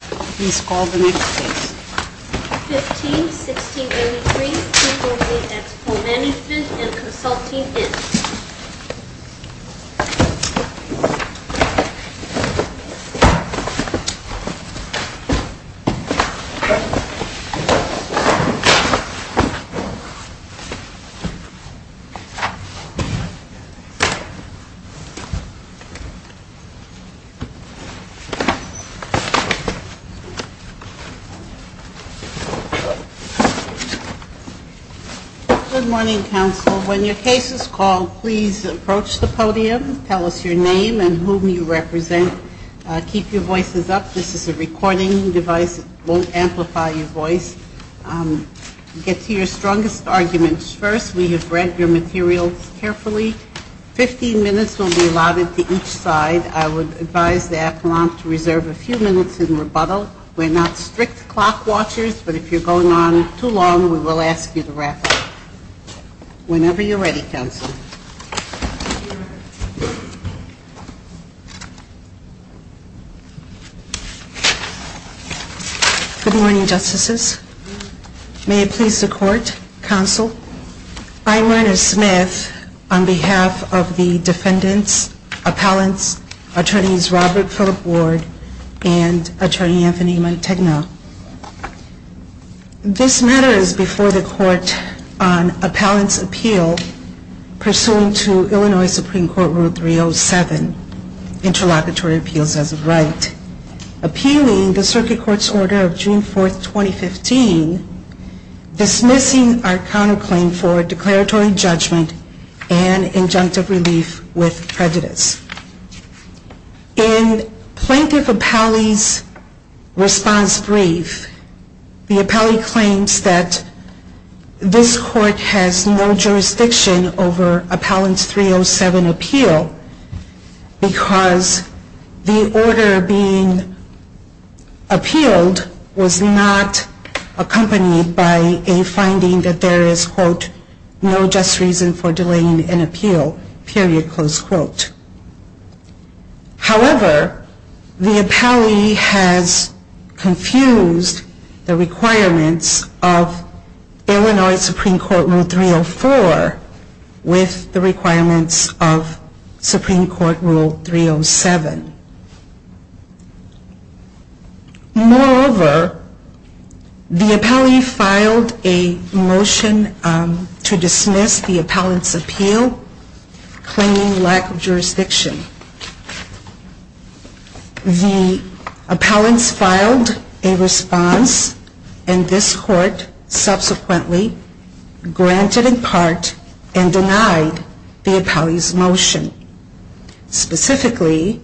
Please call the next case. 15-1683 v. Exelpol Management & Consulting, Inc. Good morning, counsel. When your case is called, please approach the podium, tell us your name and whom you represent. Keep your voices up. This is a recording device. It won't amplify your voice. Get to your strongest arguments first. We have read your materials carefully. Fifteen minutes will be allotted to each side. I would advise the appellant to reserve a few minutes in rebuttal. We're not strict clock watchers, but if you're going on too long, we will ask you to wrap up. Whenever you're ready, counsel. Good morning, Justices. May it please the Court, Counsel. I'm Reiner Smith on behalf of the defendants, appellants, attorneys Robert Phillip Ward and attorney Anthony Mantegna. This matter is before the Court on Appellant's Appeal Pursuant to Illinois Supreme Court Rule 307, Interlocutory Appeals as a Right, appealing the Circuit Court's order of June 4, 2015, dismissing our counterclaims to the Supreme Court. This order is a counterclaim for declaratory judgment and injunctive relief with prejudice. In Plaintiff Appellee's response brief, the appellee claims that this Court has no jurisdiction over Appellant's 307 appeal, because the order being appealed was not accompanied by a finding that there is, quote, no just reason for delaying an appeal, period, close quote. However, the appellee has confused the requirements of Illinois Supreme Court Rule 304 with the requirements of Supreme Court Rule 307. Moreover, the appellee filed a motion to dismiss the appellant's appeal, claiming lack of jurisdiction. The appellant's filed a response, and this Court subsequently granted in part and denied the appellee's motion. Specifically,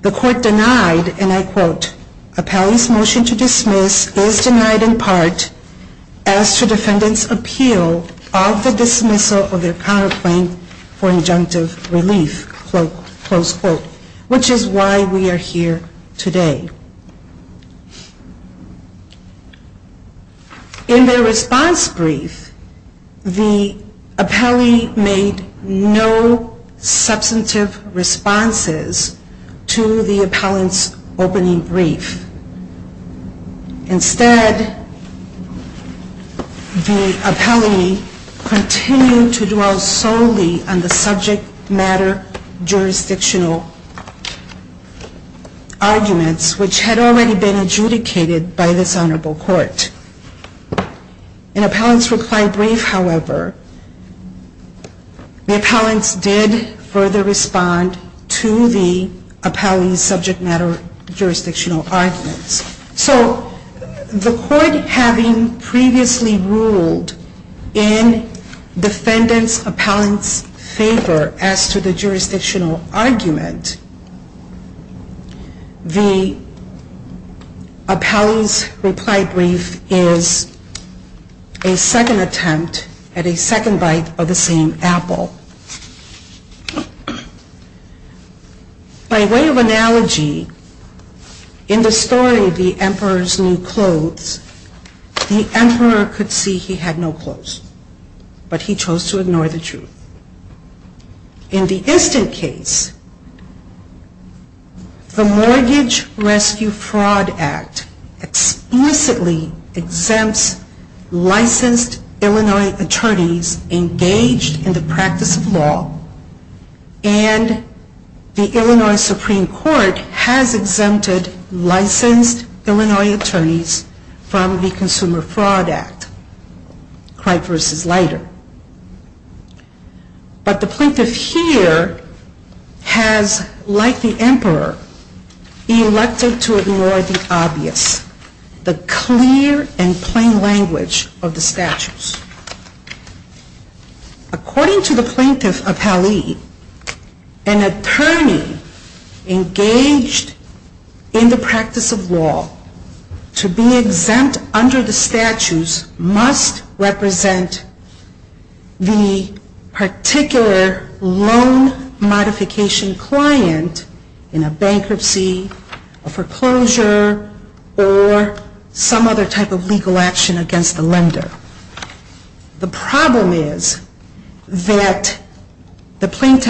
the Court denied, and I quote, appellee's motion to dismiss is denied in part, as to defendant's appeal of the dismissal of their counterclaim for injunctive relief, quote, close quote, which is why we are here today. In their response brief, the appellee made no mention of the counterclaim. Instead, the appellee continued to dwell solely on the subject matter jurisdictional arguments, which had already been adjudicated by this Honorable Court. In the appellant's reply brief, however, the appellant's did further respond to the appellee's subject matter jurisdictional arguments. So the Court, having previously ruled in defendant's appellant's favor as to the jurisdictional argument, the appellee's reply brief is a second attempt at a second bite of the same apple. By way of analogy, in the story, The Emperor's New Clothes, the emperor could see he had no clothes, but he chose to ignore the truth. In the instant case, the Mortgage Rescue Fraud Act explicitly exonerated the appellant. The plaintiff's claim is that the appellant exempts licensed Illinois attorneys engaged in the practice of law, and the Illinois Supreme Court has exempted licensed Illinois attorneys from the Consumer Fraud Act. But the plaintiff here has, like the emperor, elected to ignore the obvious, the clear and obvious truth. And so the plaintiff's claim is that the appellant exempts licensed Illinois attorneys engaged in the practice of law, and the Illinois Supreme Court has And so the plaintiff's claim is that the appellant exempts licensed Illinois attorneys engaged in the practice of law, and the Illinois Supreme Court has And so the plaintiff's claim is that the appellant exempts licensed Illinois attorneys engaged in the practice of law, and the Illinois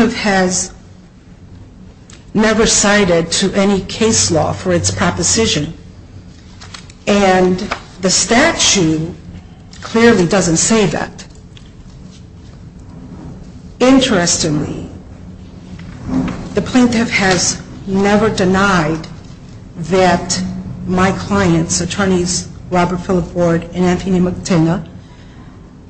Supreme Court has never cited to any case law for its proposition. And the statute clearly doesn't say that. Interestingly, the plaintiff has never denied that my clients, attorneys Robert Phillip Ward and Anthony McTinna,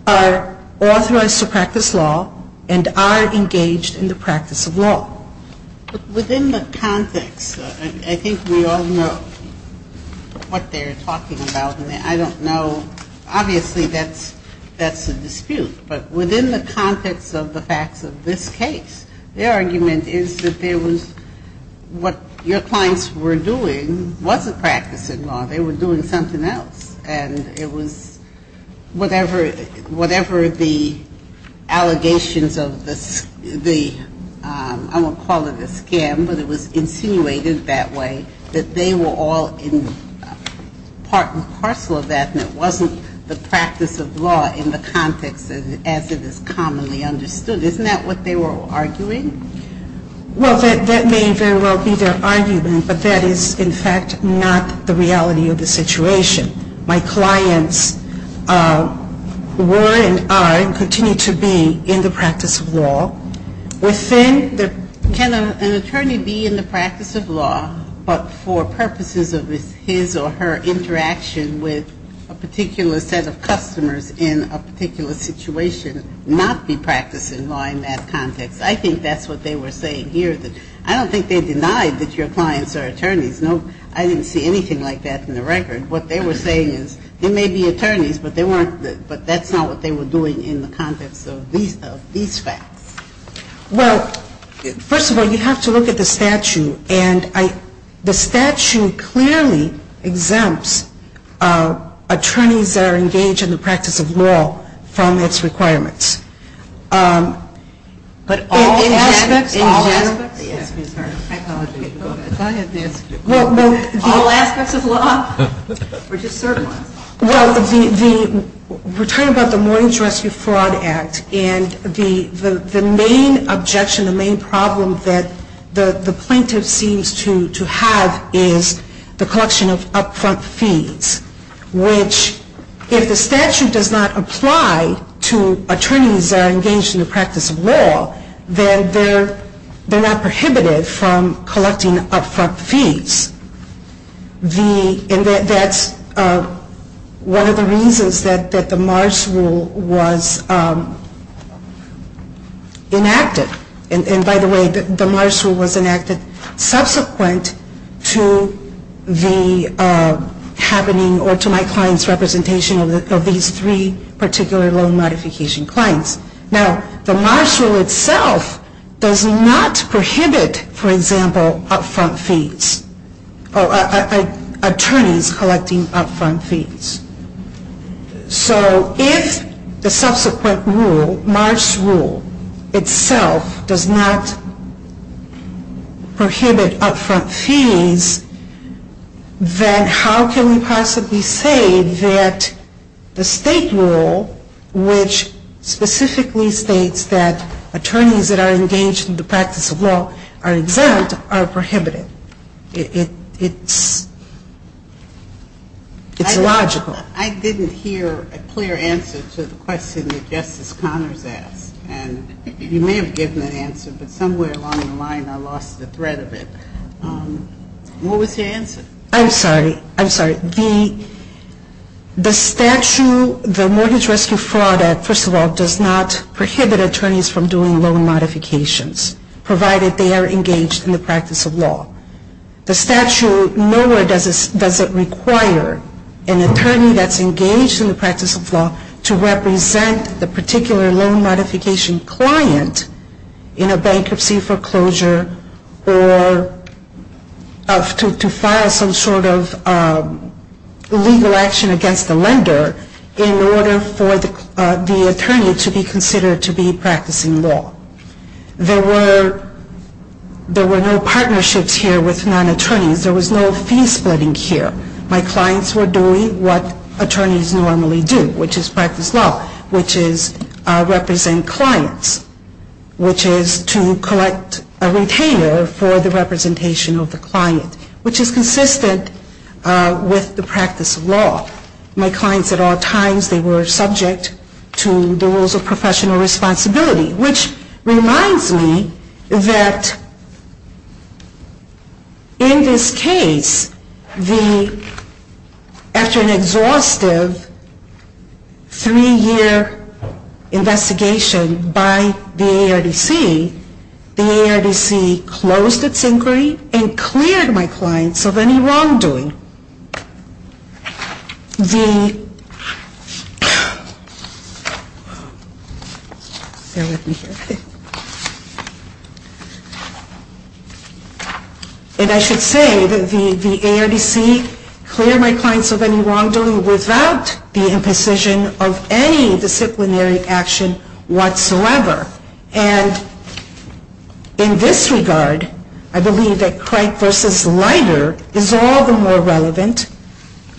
are authorized to practice law and are engaged in the practice of law. But within the context, I think we all know what they're talking about, and I don't know, obviously that's a dispute, but within the context of the facts of this case, their argument is that there was, what your clients were doing wasn't practicing law. They were doing something else. And it was whatever the allegations of the, I won't call it a scam, but it was insinuated that way, that they were all in part and parcel of that, and it wasn't the practice of law in the context as it is commonplace. And I think that's very, very, very, very, very commonly understood. Isn't that what they were arguing? Well, that may very well be their argument, but that is, in fact, not the reality of the situation. My clients were and are and continue to be in the practice of law. Within the, can an attorney be in the practice of law, but for purposes of his or her interaction with a particular set of customers in a particular situation not be practicing law in that context? I think that's what they were saying here. I don't think they denied that your clients are attorneys. No, I didn't see anything like that in the record. What they were saying is they may be attorneys, but they weren't, but that's not what they were doing in the context of these facts. Well, first of all, you have to look at the statute. And the statute clearly exempts the person who is in the practice of law from being in the practice of law. It exempts attorneys that are engaged in the practice of law from its requirements. But all aspects, all aspects. All aspects of law, or just certain ones? Well, we're talking about the Mornings Rescue Fraud Act, and the main objection, the main problem that the plaintiff seems to have is the collection of upfront fees, which if the statute does not apply to attorneys that are engaged in the practice of law, then they're not prohibited from collecting upfront fees. And that's one of the reasons that the Mars Rule was enacted. And by the way, the Mars Rule was enacted subsequent to the happening, or to my client's representation of these three particular loan modification clients. Now, the Mars Rule itself does not prohibit, for example, upfront fees, or attorneys collecting upfront fees. So if the subsequent rule, Mars Rule itself, does not prohibit upfront fees, then it's not prohibited. Then how can we possibly say that the state rule, which specifically states that attorneys that are engaged in the practice of law are exempt, are prohibited? It's illogical. I didn't hear a clear answer to the question that Justice Connors asked. And you may have given an answer, but somewhere along the line I lost the thread of it. What was your answer? I'm sorry. I'm sorry. The statute, the Mortgage Rescue Fraud Act, first of all, does not prohibit attorneys from doing loan modifications, provided they are engaged in the practice of law. The statute nowhere does it require an attorney that's engaged in the practice of law to represent the particular loan modification client in a case, or to file some sort of legal action against the lender in order for the attorney to be considered to be practicing law. There were no partnerships here with non-attorneys. There was no fee splitting here. My clients were doing what attorneys normally do, which is practice law, which is represent clients, which is to collect a loan, which is to pay for the representation of the client, which is consistent with the practice of law. My clients at all times, they were subject to the rules of professional responsibility, which reminds me that in this case, after an exhaustive three-year investigation by the ARDC, the ARDC closed its case. It closed its inquiry and cleared my clients of any wrongdoing. And I should say that the ARDC cleared my clients of any wrongdoing without the imposition of any disciplinary action whatsoever. And in this regard, I believe that Craig v. Leiter is all the more relevant,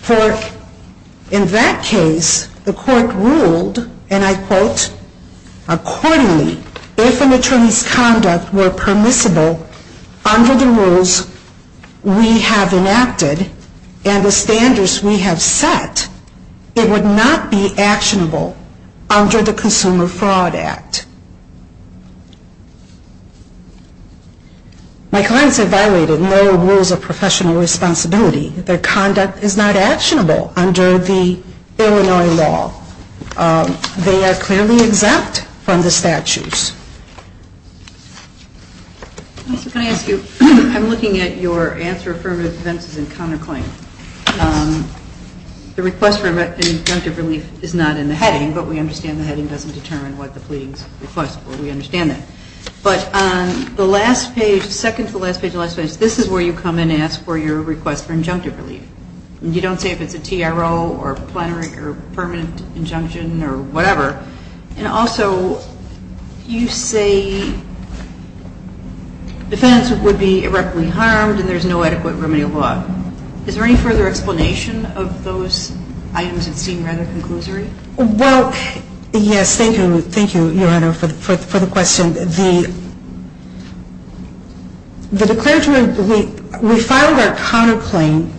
for in that case, the court ruled, and I quote, accordingly, if an attorney's conduct were permissible under the rules we have enacted and the standards we have set, it would not be actionable under the Consumer Fraud Act. My clients have violated no rules of professional responsibility. Their conduct is not actionable under the Illinois law. They are clearly exempt from the statutes. Can I ask you, I'm looking at your answer for offenses and counterclaims. The request for an injunctive relief is not in the heading, but we understand the heading doesn't determine what the pleading's request will be. We understand that. But on the last page, second to the last page of the last page, this is where you come in and ask for your request for injunctive relief. And you don't say if it's a TRO or plenary or permanent injunction or whatever. And also, you say defense would be irreparably harmed and there's no adequate remedial law. Is there any further explanation of those items that seem rather conclusory? Well, yes, thank you. Thank you, Your Honor, for the question. The declaratory, we filed our counterclaim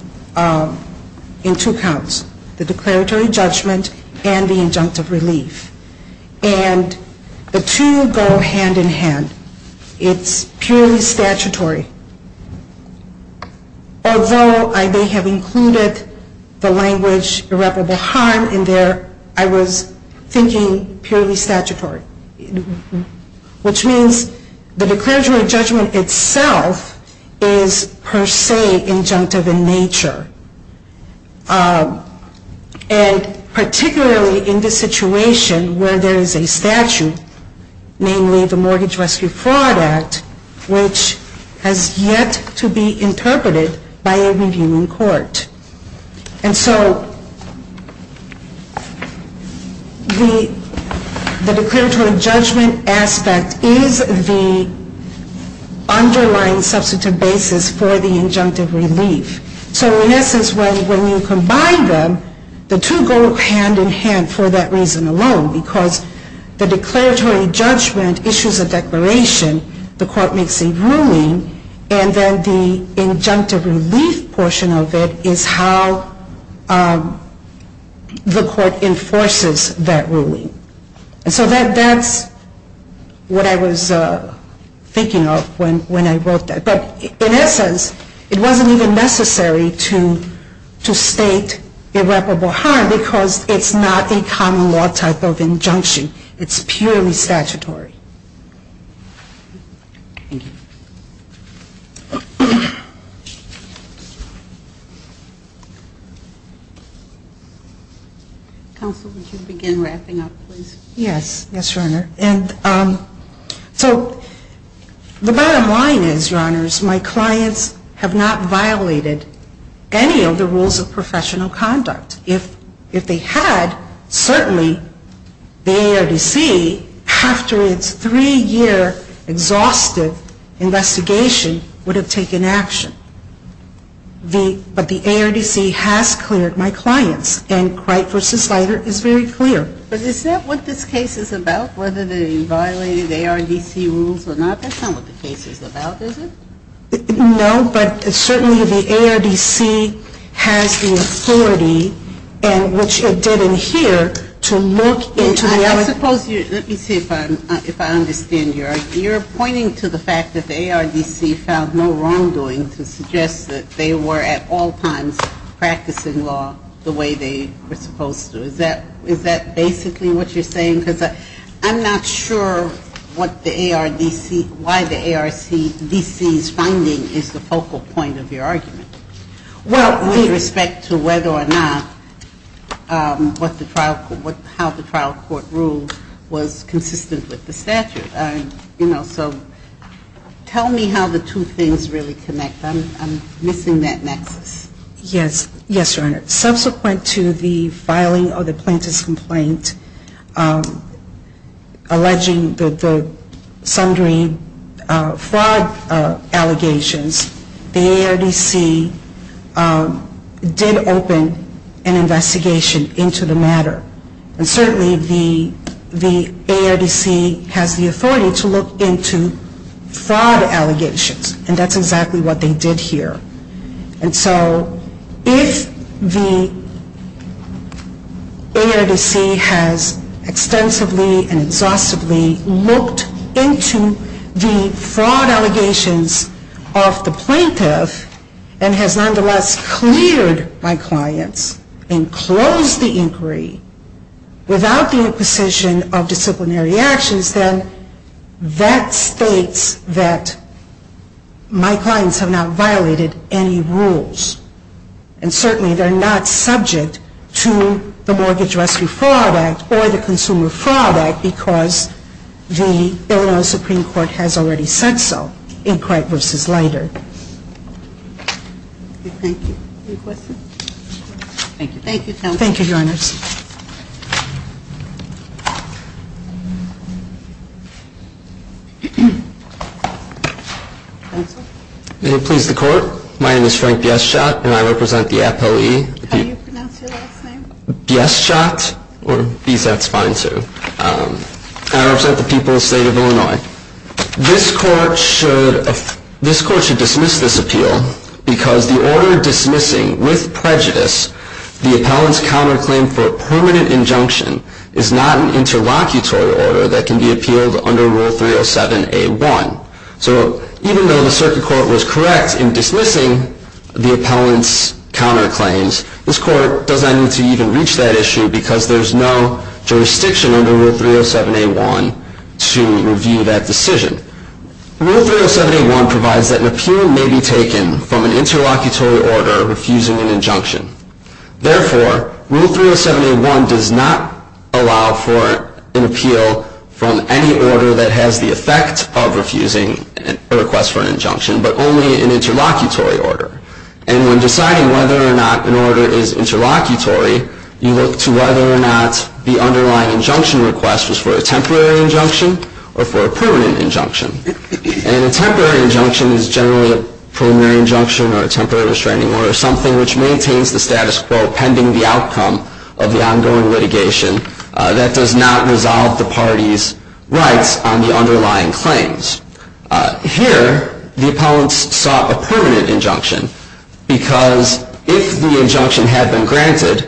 in two counts, the declaratory judgment and the injunctive relief. And the two go hand in hand. It's purely statutory. Although I may have included the language irreparable harm in there, I was thinking purely statutory, which means the declaratory judgment itself is per se injunctive in nature. And particularly in the situation where there is a statute, namely the Mortgage Rescue Fraud Act, which has yet to be interpreted by a reviewing court. And so the declaratory judgment aspect is the underlying substantive basis for the injunctive relief. So in essence, when you combine them, the two go hand in hand for that reason alone, because the declaratory judgment issues a relief portion of it is how the court enforces that ruling. And so that's what I was thinking of when I wrote that. But in essence, it wasn't even necessary to state irreparable harm because it's not a common law type of injunction. It's purely statutory. Thank you. Counsel, would you begin wrapping up? Yes, Your Honor. So the bottom line is, Your Honors, my clients have not violated any of the rules of professional conduct. If they had, certainly the ARDC, after its three-year exhaustive investigation, would have taken action. But the ARDC has cleared my clients. And Cripe v. Slider is very clear. But is that what this case is about, whether they violated ARDC rules or not? That's not what the case is about, is it? No, but certainly the ARDC has the authority, which it did in here, to look into the elements. Let me see if I understand you. Your Honor, you're pointing to the fact that the ARDC found no wrongdoing to suggest that they were at all times practicing law the way they were supposed to. Is that basically what you're saying? Because I'm not sure what the ARDC, why the ARDC's finding is the focal point of your argument. Well, with respect to whether or not how the trial court ruled was consistent with the statute. You know, so tell me how the two things really connect. I'm missing that nexus. Yes, Your Honor. The ARDC did open an investigation into the matter. Subsequent to the filing of the plaintiff's complaint alleging the sundry fraud allegations, the ARDC did open an investigation into the matter. And certainly the ARDC has the authority to look into fraud allegations. And that's exactly what they did here. And so if the ARDC has extensively and exhaustively looked into the fraud allegations of the plaintiff and has nonetheless cleared my clients and closed the inquiry without the imposition of disciplinary actions, then that states that my clients have not violated any rules. And certainly they're not subject to the Mortgage Rescue Fraud Act or the Consumer Fraud Act because the Illinois Supreme Court has already said so in Cripe v. Leiter. Thank you. Any questions? Thank you. Thank you, counsel. Thank you, Your Honor. Thank you. Counsel. May it please the Court. My name is Frank Bieschot, and I represent the appellee. How do you pronounce your last name? Bieschot, or Biesat's fine, too. I represent the people of the state of Illinois. This Court should dismiss this appeal because the order dismissing, with prejudice, the appellant's counterclaim for a permanent injunction is not an interlocutory order that can be appealed under Rule 307A1. So even though the Circuit Court was correct in dismissing the appellant's counterclaims, this Court does not need to even reach that issue because there is no jurisdiction under Rule 307A1 to review that decision. Rule 307A1 provides that an appeal may be taken from an interlocutory order refusing an injunction. Therefore, Rule 307A1 does not allow for an appeal from any order that has the effect of refusing a request for an injunction, but only an interlocutory order. And when deciding whether or not an order is interlocutory, you look to whether or not the underlying injunction request was for a temporary injunction or for a permanent injunction. And a temporary injunction is generally a preliminary injunction or a temporary restraining order, something which maintains the status quo pending the outcome of the ongoing litigation that does not resolve the party's rights on the underlying claims. Here, the appellants sought a permanent injunction because if the injunction had been granted,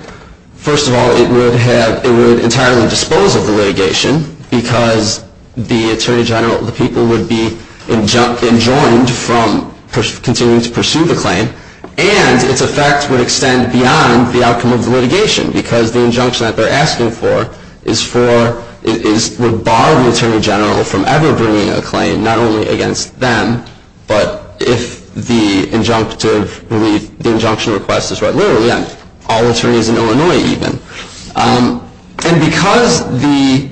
first of all, it would entirely dispose of the litigation because the people would be enjoined from continuing to pursue the claim. And its effect would extend beyond the outcome of the litigation because the injunction that they're asking for would bar the attorney general from ever bringing a claim, not only against them, but if the injunction request is read literally on all attorneys in Illinois even. And because the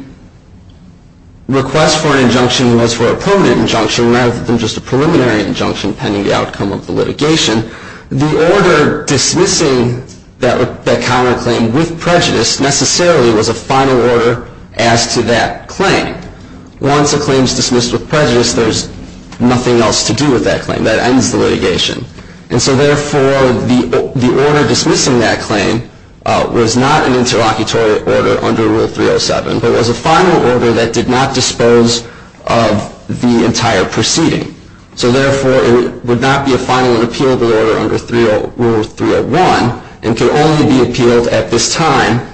request for an injunction was for a permanent injunction rather than just a preliminary injunction pending the outcome of the litigation, the order dismissing that counterclaim with prejudice necessarily was a final order as to that claim. Once a claim is dismissed with prejudice, there's nothing else to do with that claim. That ends the litigation. And so therefore, the order dismissing that claim was not an interlocutory order under Rule 307, but was a final order that did not dispose of the entire proceeding. So therefore, it would not be a final and appealable order under Rule 301 and could only be appealed at this time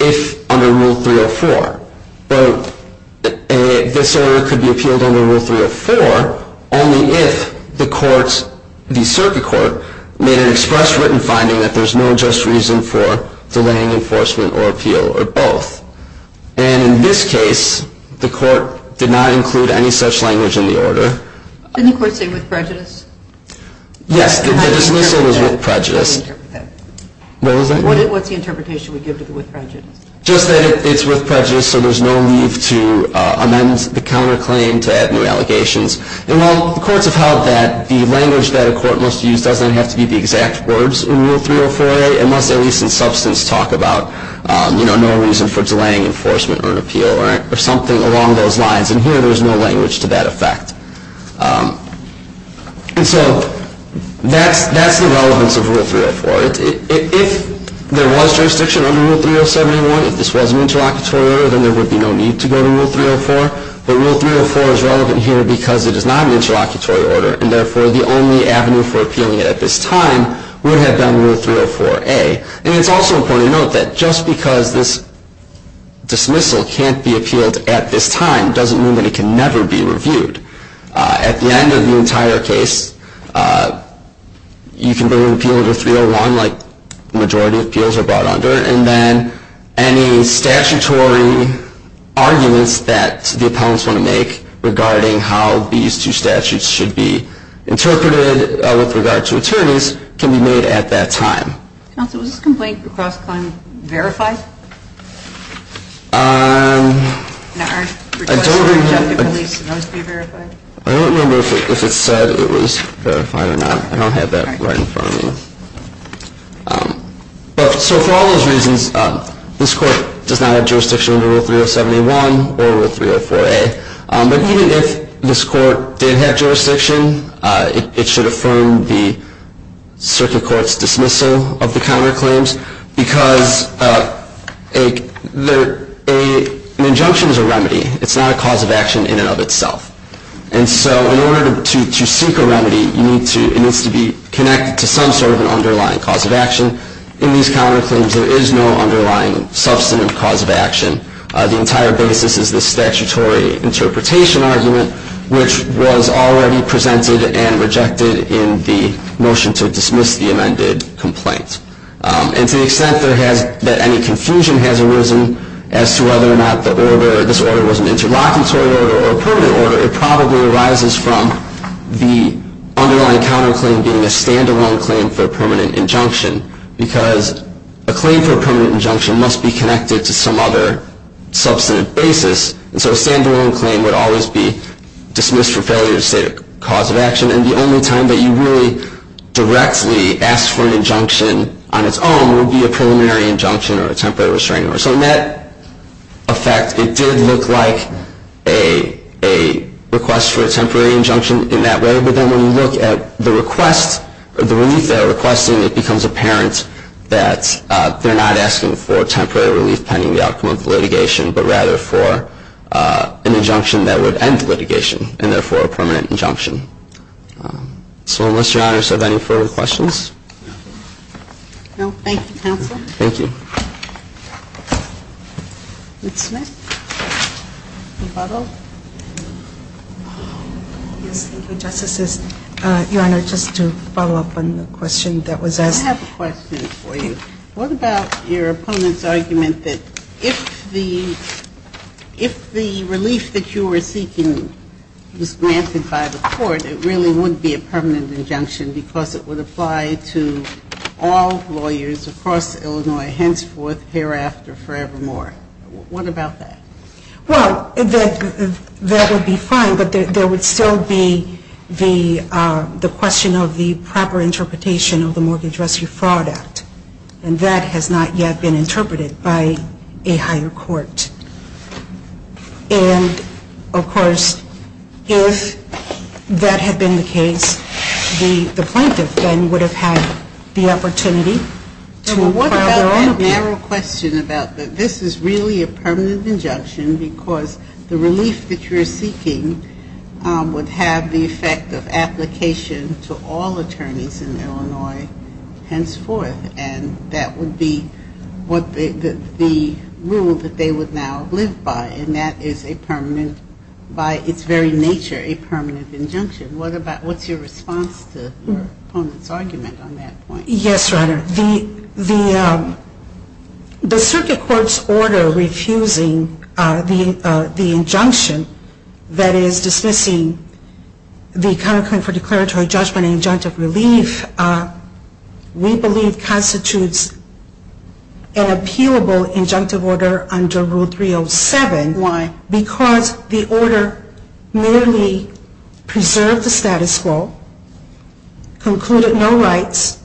if under Rule 304. This order could be appealed under Rule 304 only if the circuit court made an express written finding that there's no just reason for delaying enforcement or appeal or both. And in this case, the court did not include any such language in the order. Didn't the court say with prejudice? Yes. What's the interpretation we give to the with prejudice? Just that it's with prejudice, so there's no need to amend the counterclaim to add new allegations. And while the courts have held that the language that a court must use doesn't have to be the exact words in Rule 304A, it must at least in substance talk about no reason for delaying enforcement or an appeal or something along those lines. And here, there's no language to that effect. And so that's the relevance of Rule 304. If there was jurisdiction under Rule 3071, if this was an interlocutory order, then there would be no need to go to Rule 304. But Rule 304 is relevant here because it is not an interlocutory order. And therefore, the only avenue for appealing it at this time would have been Rule 304A. And it's also important to note that just because this dismissal can't be appealed at this time doesn't mean that it can never be reviewed. At the end of the entire case, you can bring an appeal to 301 like the majority of appeals are brought under. And then any statutory arguments that the appellants want to make regarding how these two statutes should be interpreted with regard to attorneys can be made at that time. Counsel, was this complaint for cross-claim verified? I don't remember if it said it was verified or not. I don't have that right in front of me. So for all those reasons, this court does not have jurisdiction under Rule 3071 or Rule 304A. But even if this court did have jurisdiction, it should affirm the circuit court's dismissal of the counterclaims. Because an injunction is a remedy. It's not a cause of action in and of itself. And so in order to seek a remedy, it needs to be connected to some sort of an underlying cause of action. In these counterclaims, there is no underlying substantive cause of action. The entire basis is the statutory interpretation argument, which was already presented and rejected in the motion to dismiss the amended complaint. And to the extent that any confusion has arisen as to whether or not this order was an interlocutory order or a permanent order, it probably arises from the underlying counterclaim being a standalone claim for a permanent injunction. Because a claim for a permanent injunction must be connected to some other substantive basis. And so a standalone claim would always be dismissed for failure to state a cause of action. And the only time that you really directly ask for an injunction on its own would be a preliminary injunction or a temporary restraining order. So in that effect, it did look like a request for a temporary injunction in that way. But then when you look at the relief they're requesting, it becomes apparent that they're not asking for temporary relief pending the outcome of litigation, but rather for an injunction that would end litigation, and therefore a permanent injunction. So unless Your Honors have any further questions. No. Thank you, counsel. Thank you. Ruth Smith, rebuttal. Yes, Your Honor, just to follow up on the question that was asked. I have a question for you. What about your opponent's argument that if the relief that you were seeking was granted by the court, it really would be a permanent injunction because it would apply to all lawyers across Illinois, henceforth, hereafter, forevermore. What about that? Well, that would be fine, but there would still be the question of the proper interpretation of the Mortgage Rescue Fraud Act. And that has not yet been interpreted by a higher court. And, of course, if that had been the case, the plaintiff then would have had the opportunity to file their own appeal. Well, what about that narrow question about this is really a permanent injunction because the relief that you're seeking would have the effect of application to all attorneys in Illinois, henceforth. And that would be the rule that they would now live by. And that is a permanent, by its very nature, a permanent injunction. What's your response to your opponent's argument on that point? Yes, Your Honor. The circuit court's order refusing the injunction that is dismissing the counterclaim for declaratory judgment and injunctive relief, we believe counterclaim for declaratory judgment constitutes an appealable injunctive order under Rule 307. Why? Because the order merely preserved the status quo, concluded no rights,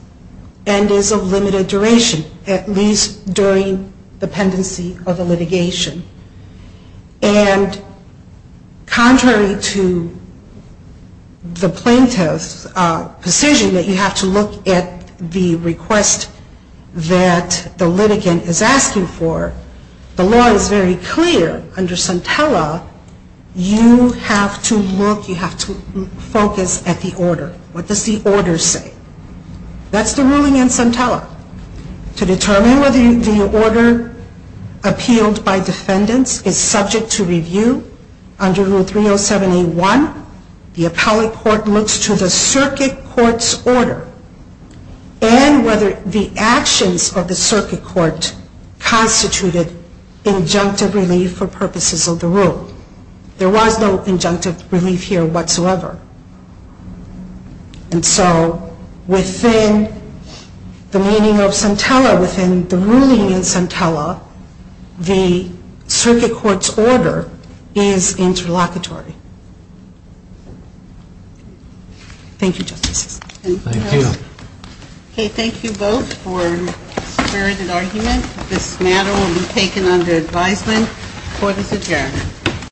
and is of limited duration, at least during the pendency of the litigation. And contrary to the plaintiff's position that you have to look at the request for the release of the claimant, the plaintiff's request for the release of the claimant is not relatively clear. And the court's ruling that the litigant is asking for, the law is very clear under Santella, you have to look, you have to focus at the order. What does the order say? That's the ruling in Santella. To determine whether the order appealed by defendants is subject to review under Rule 307A.1, the appellate court looks to the circuit court's order and whether the actions of the circuit court constituted injunctive relief for purposes of the rule. There was no injunctive relief here whatsoever. And so within the meaning of Santella, within the ruling in Santella, the circuit court's order is interlocutory. Thank you, Justices.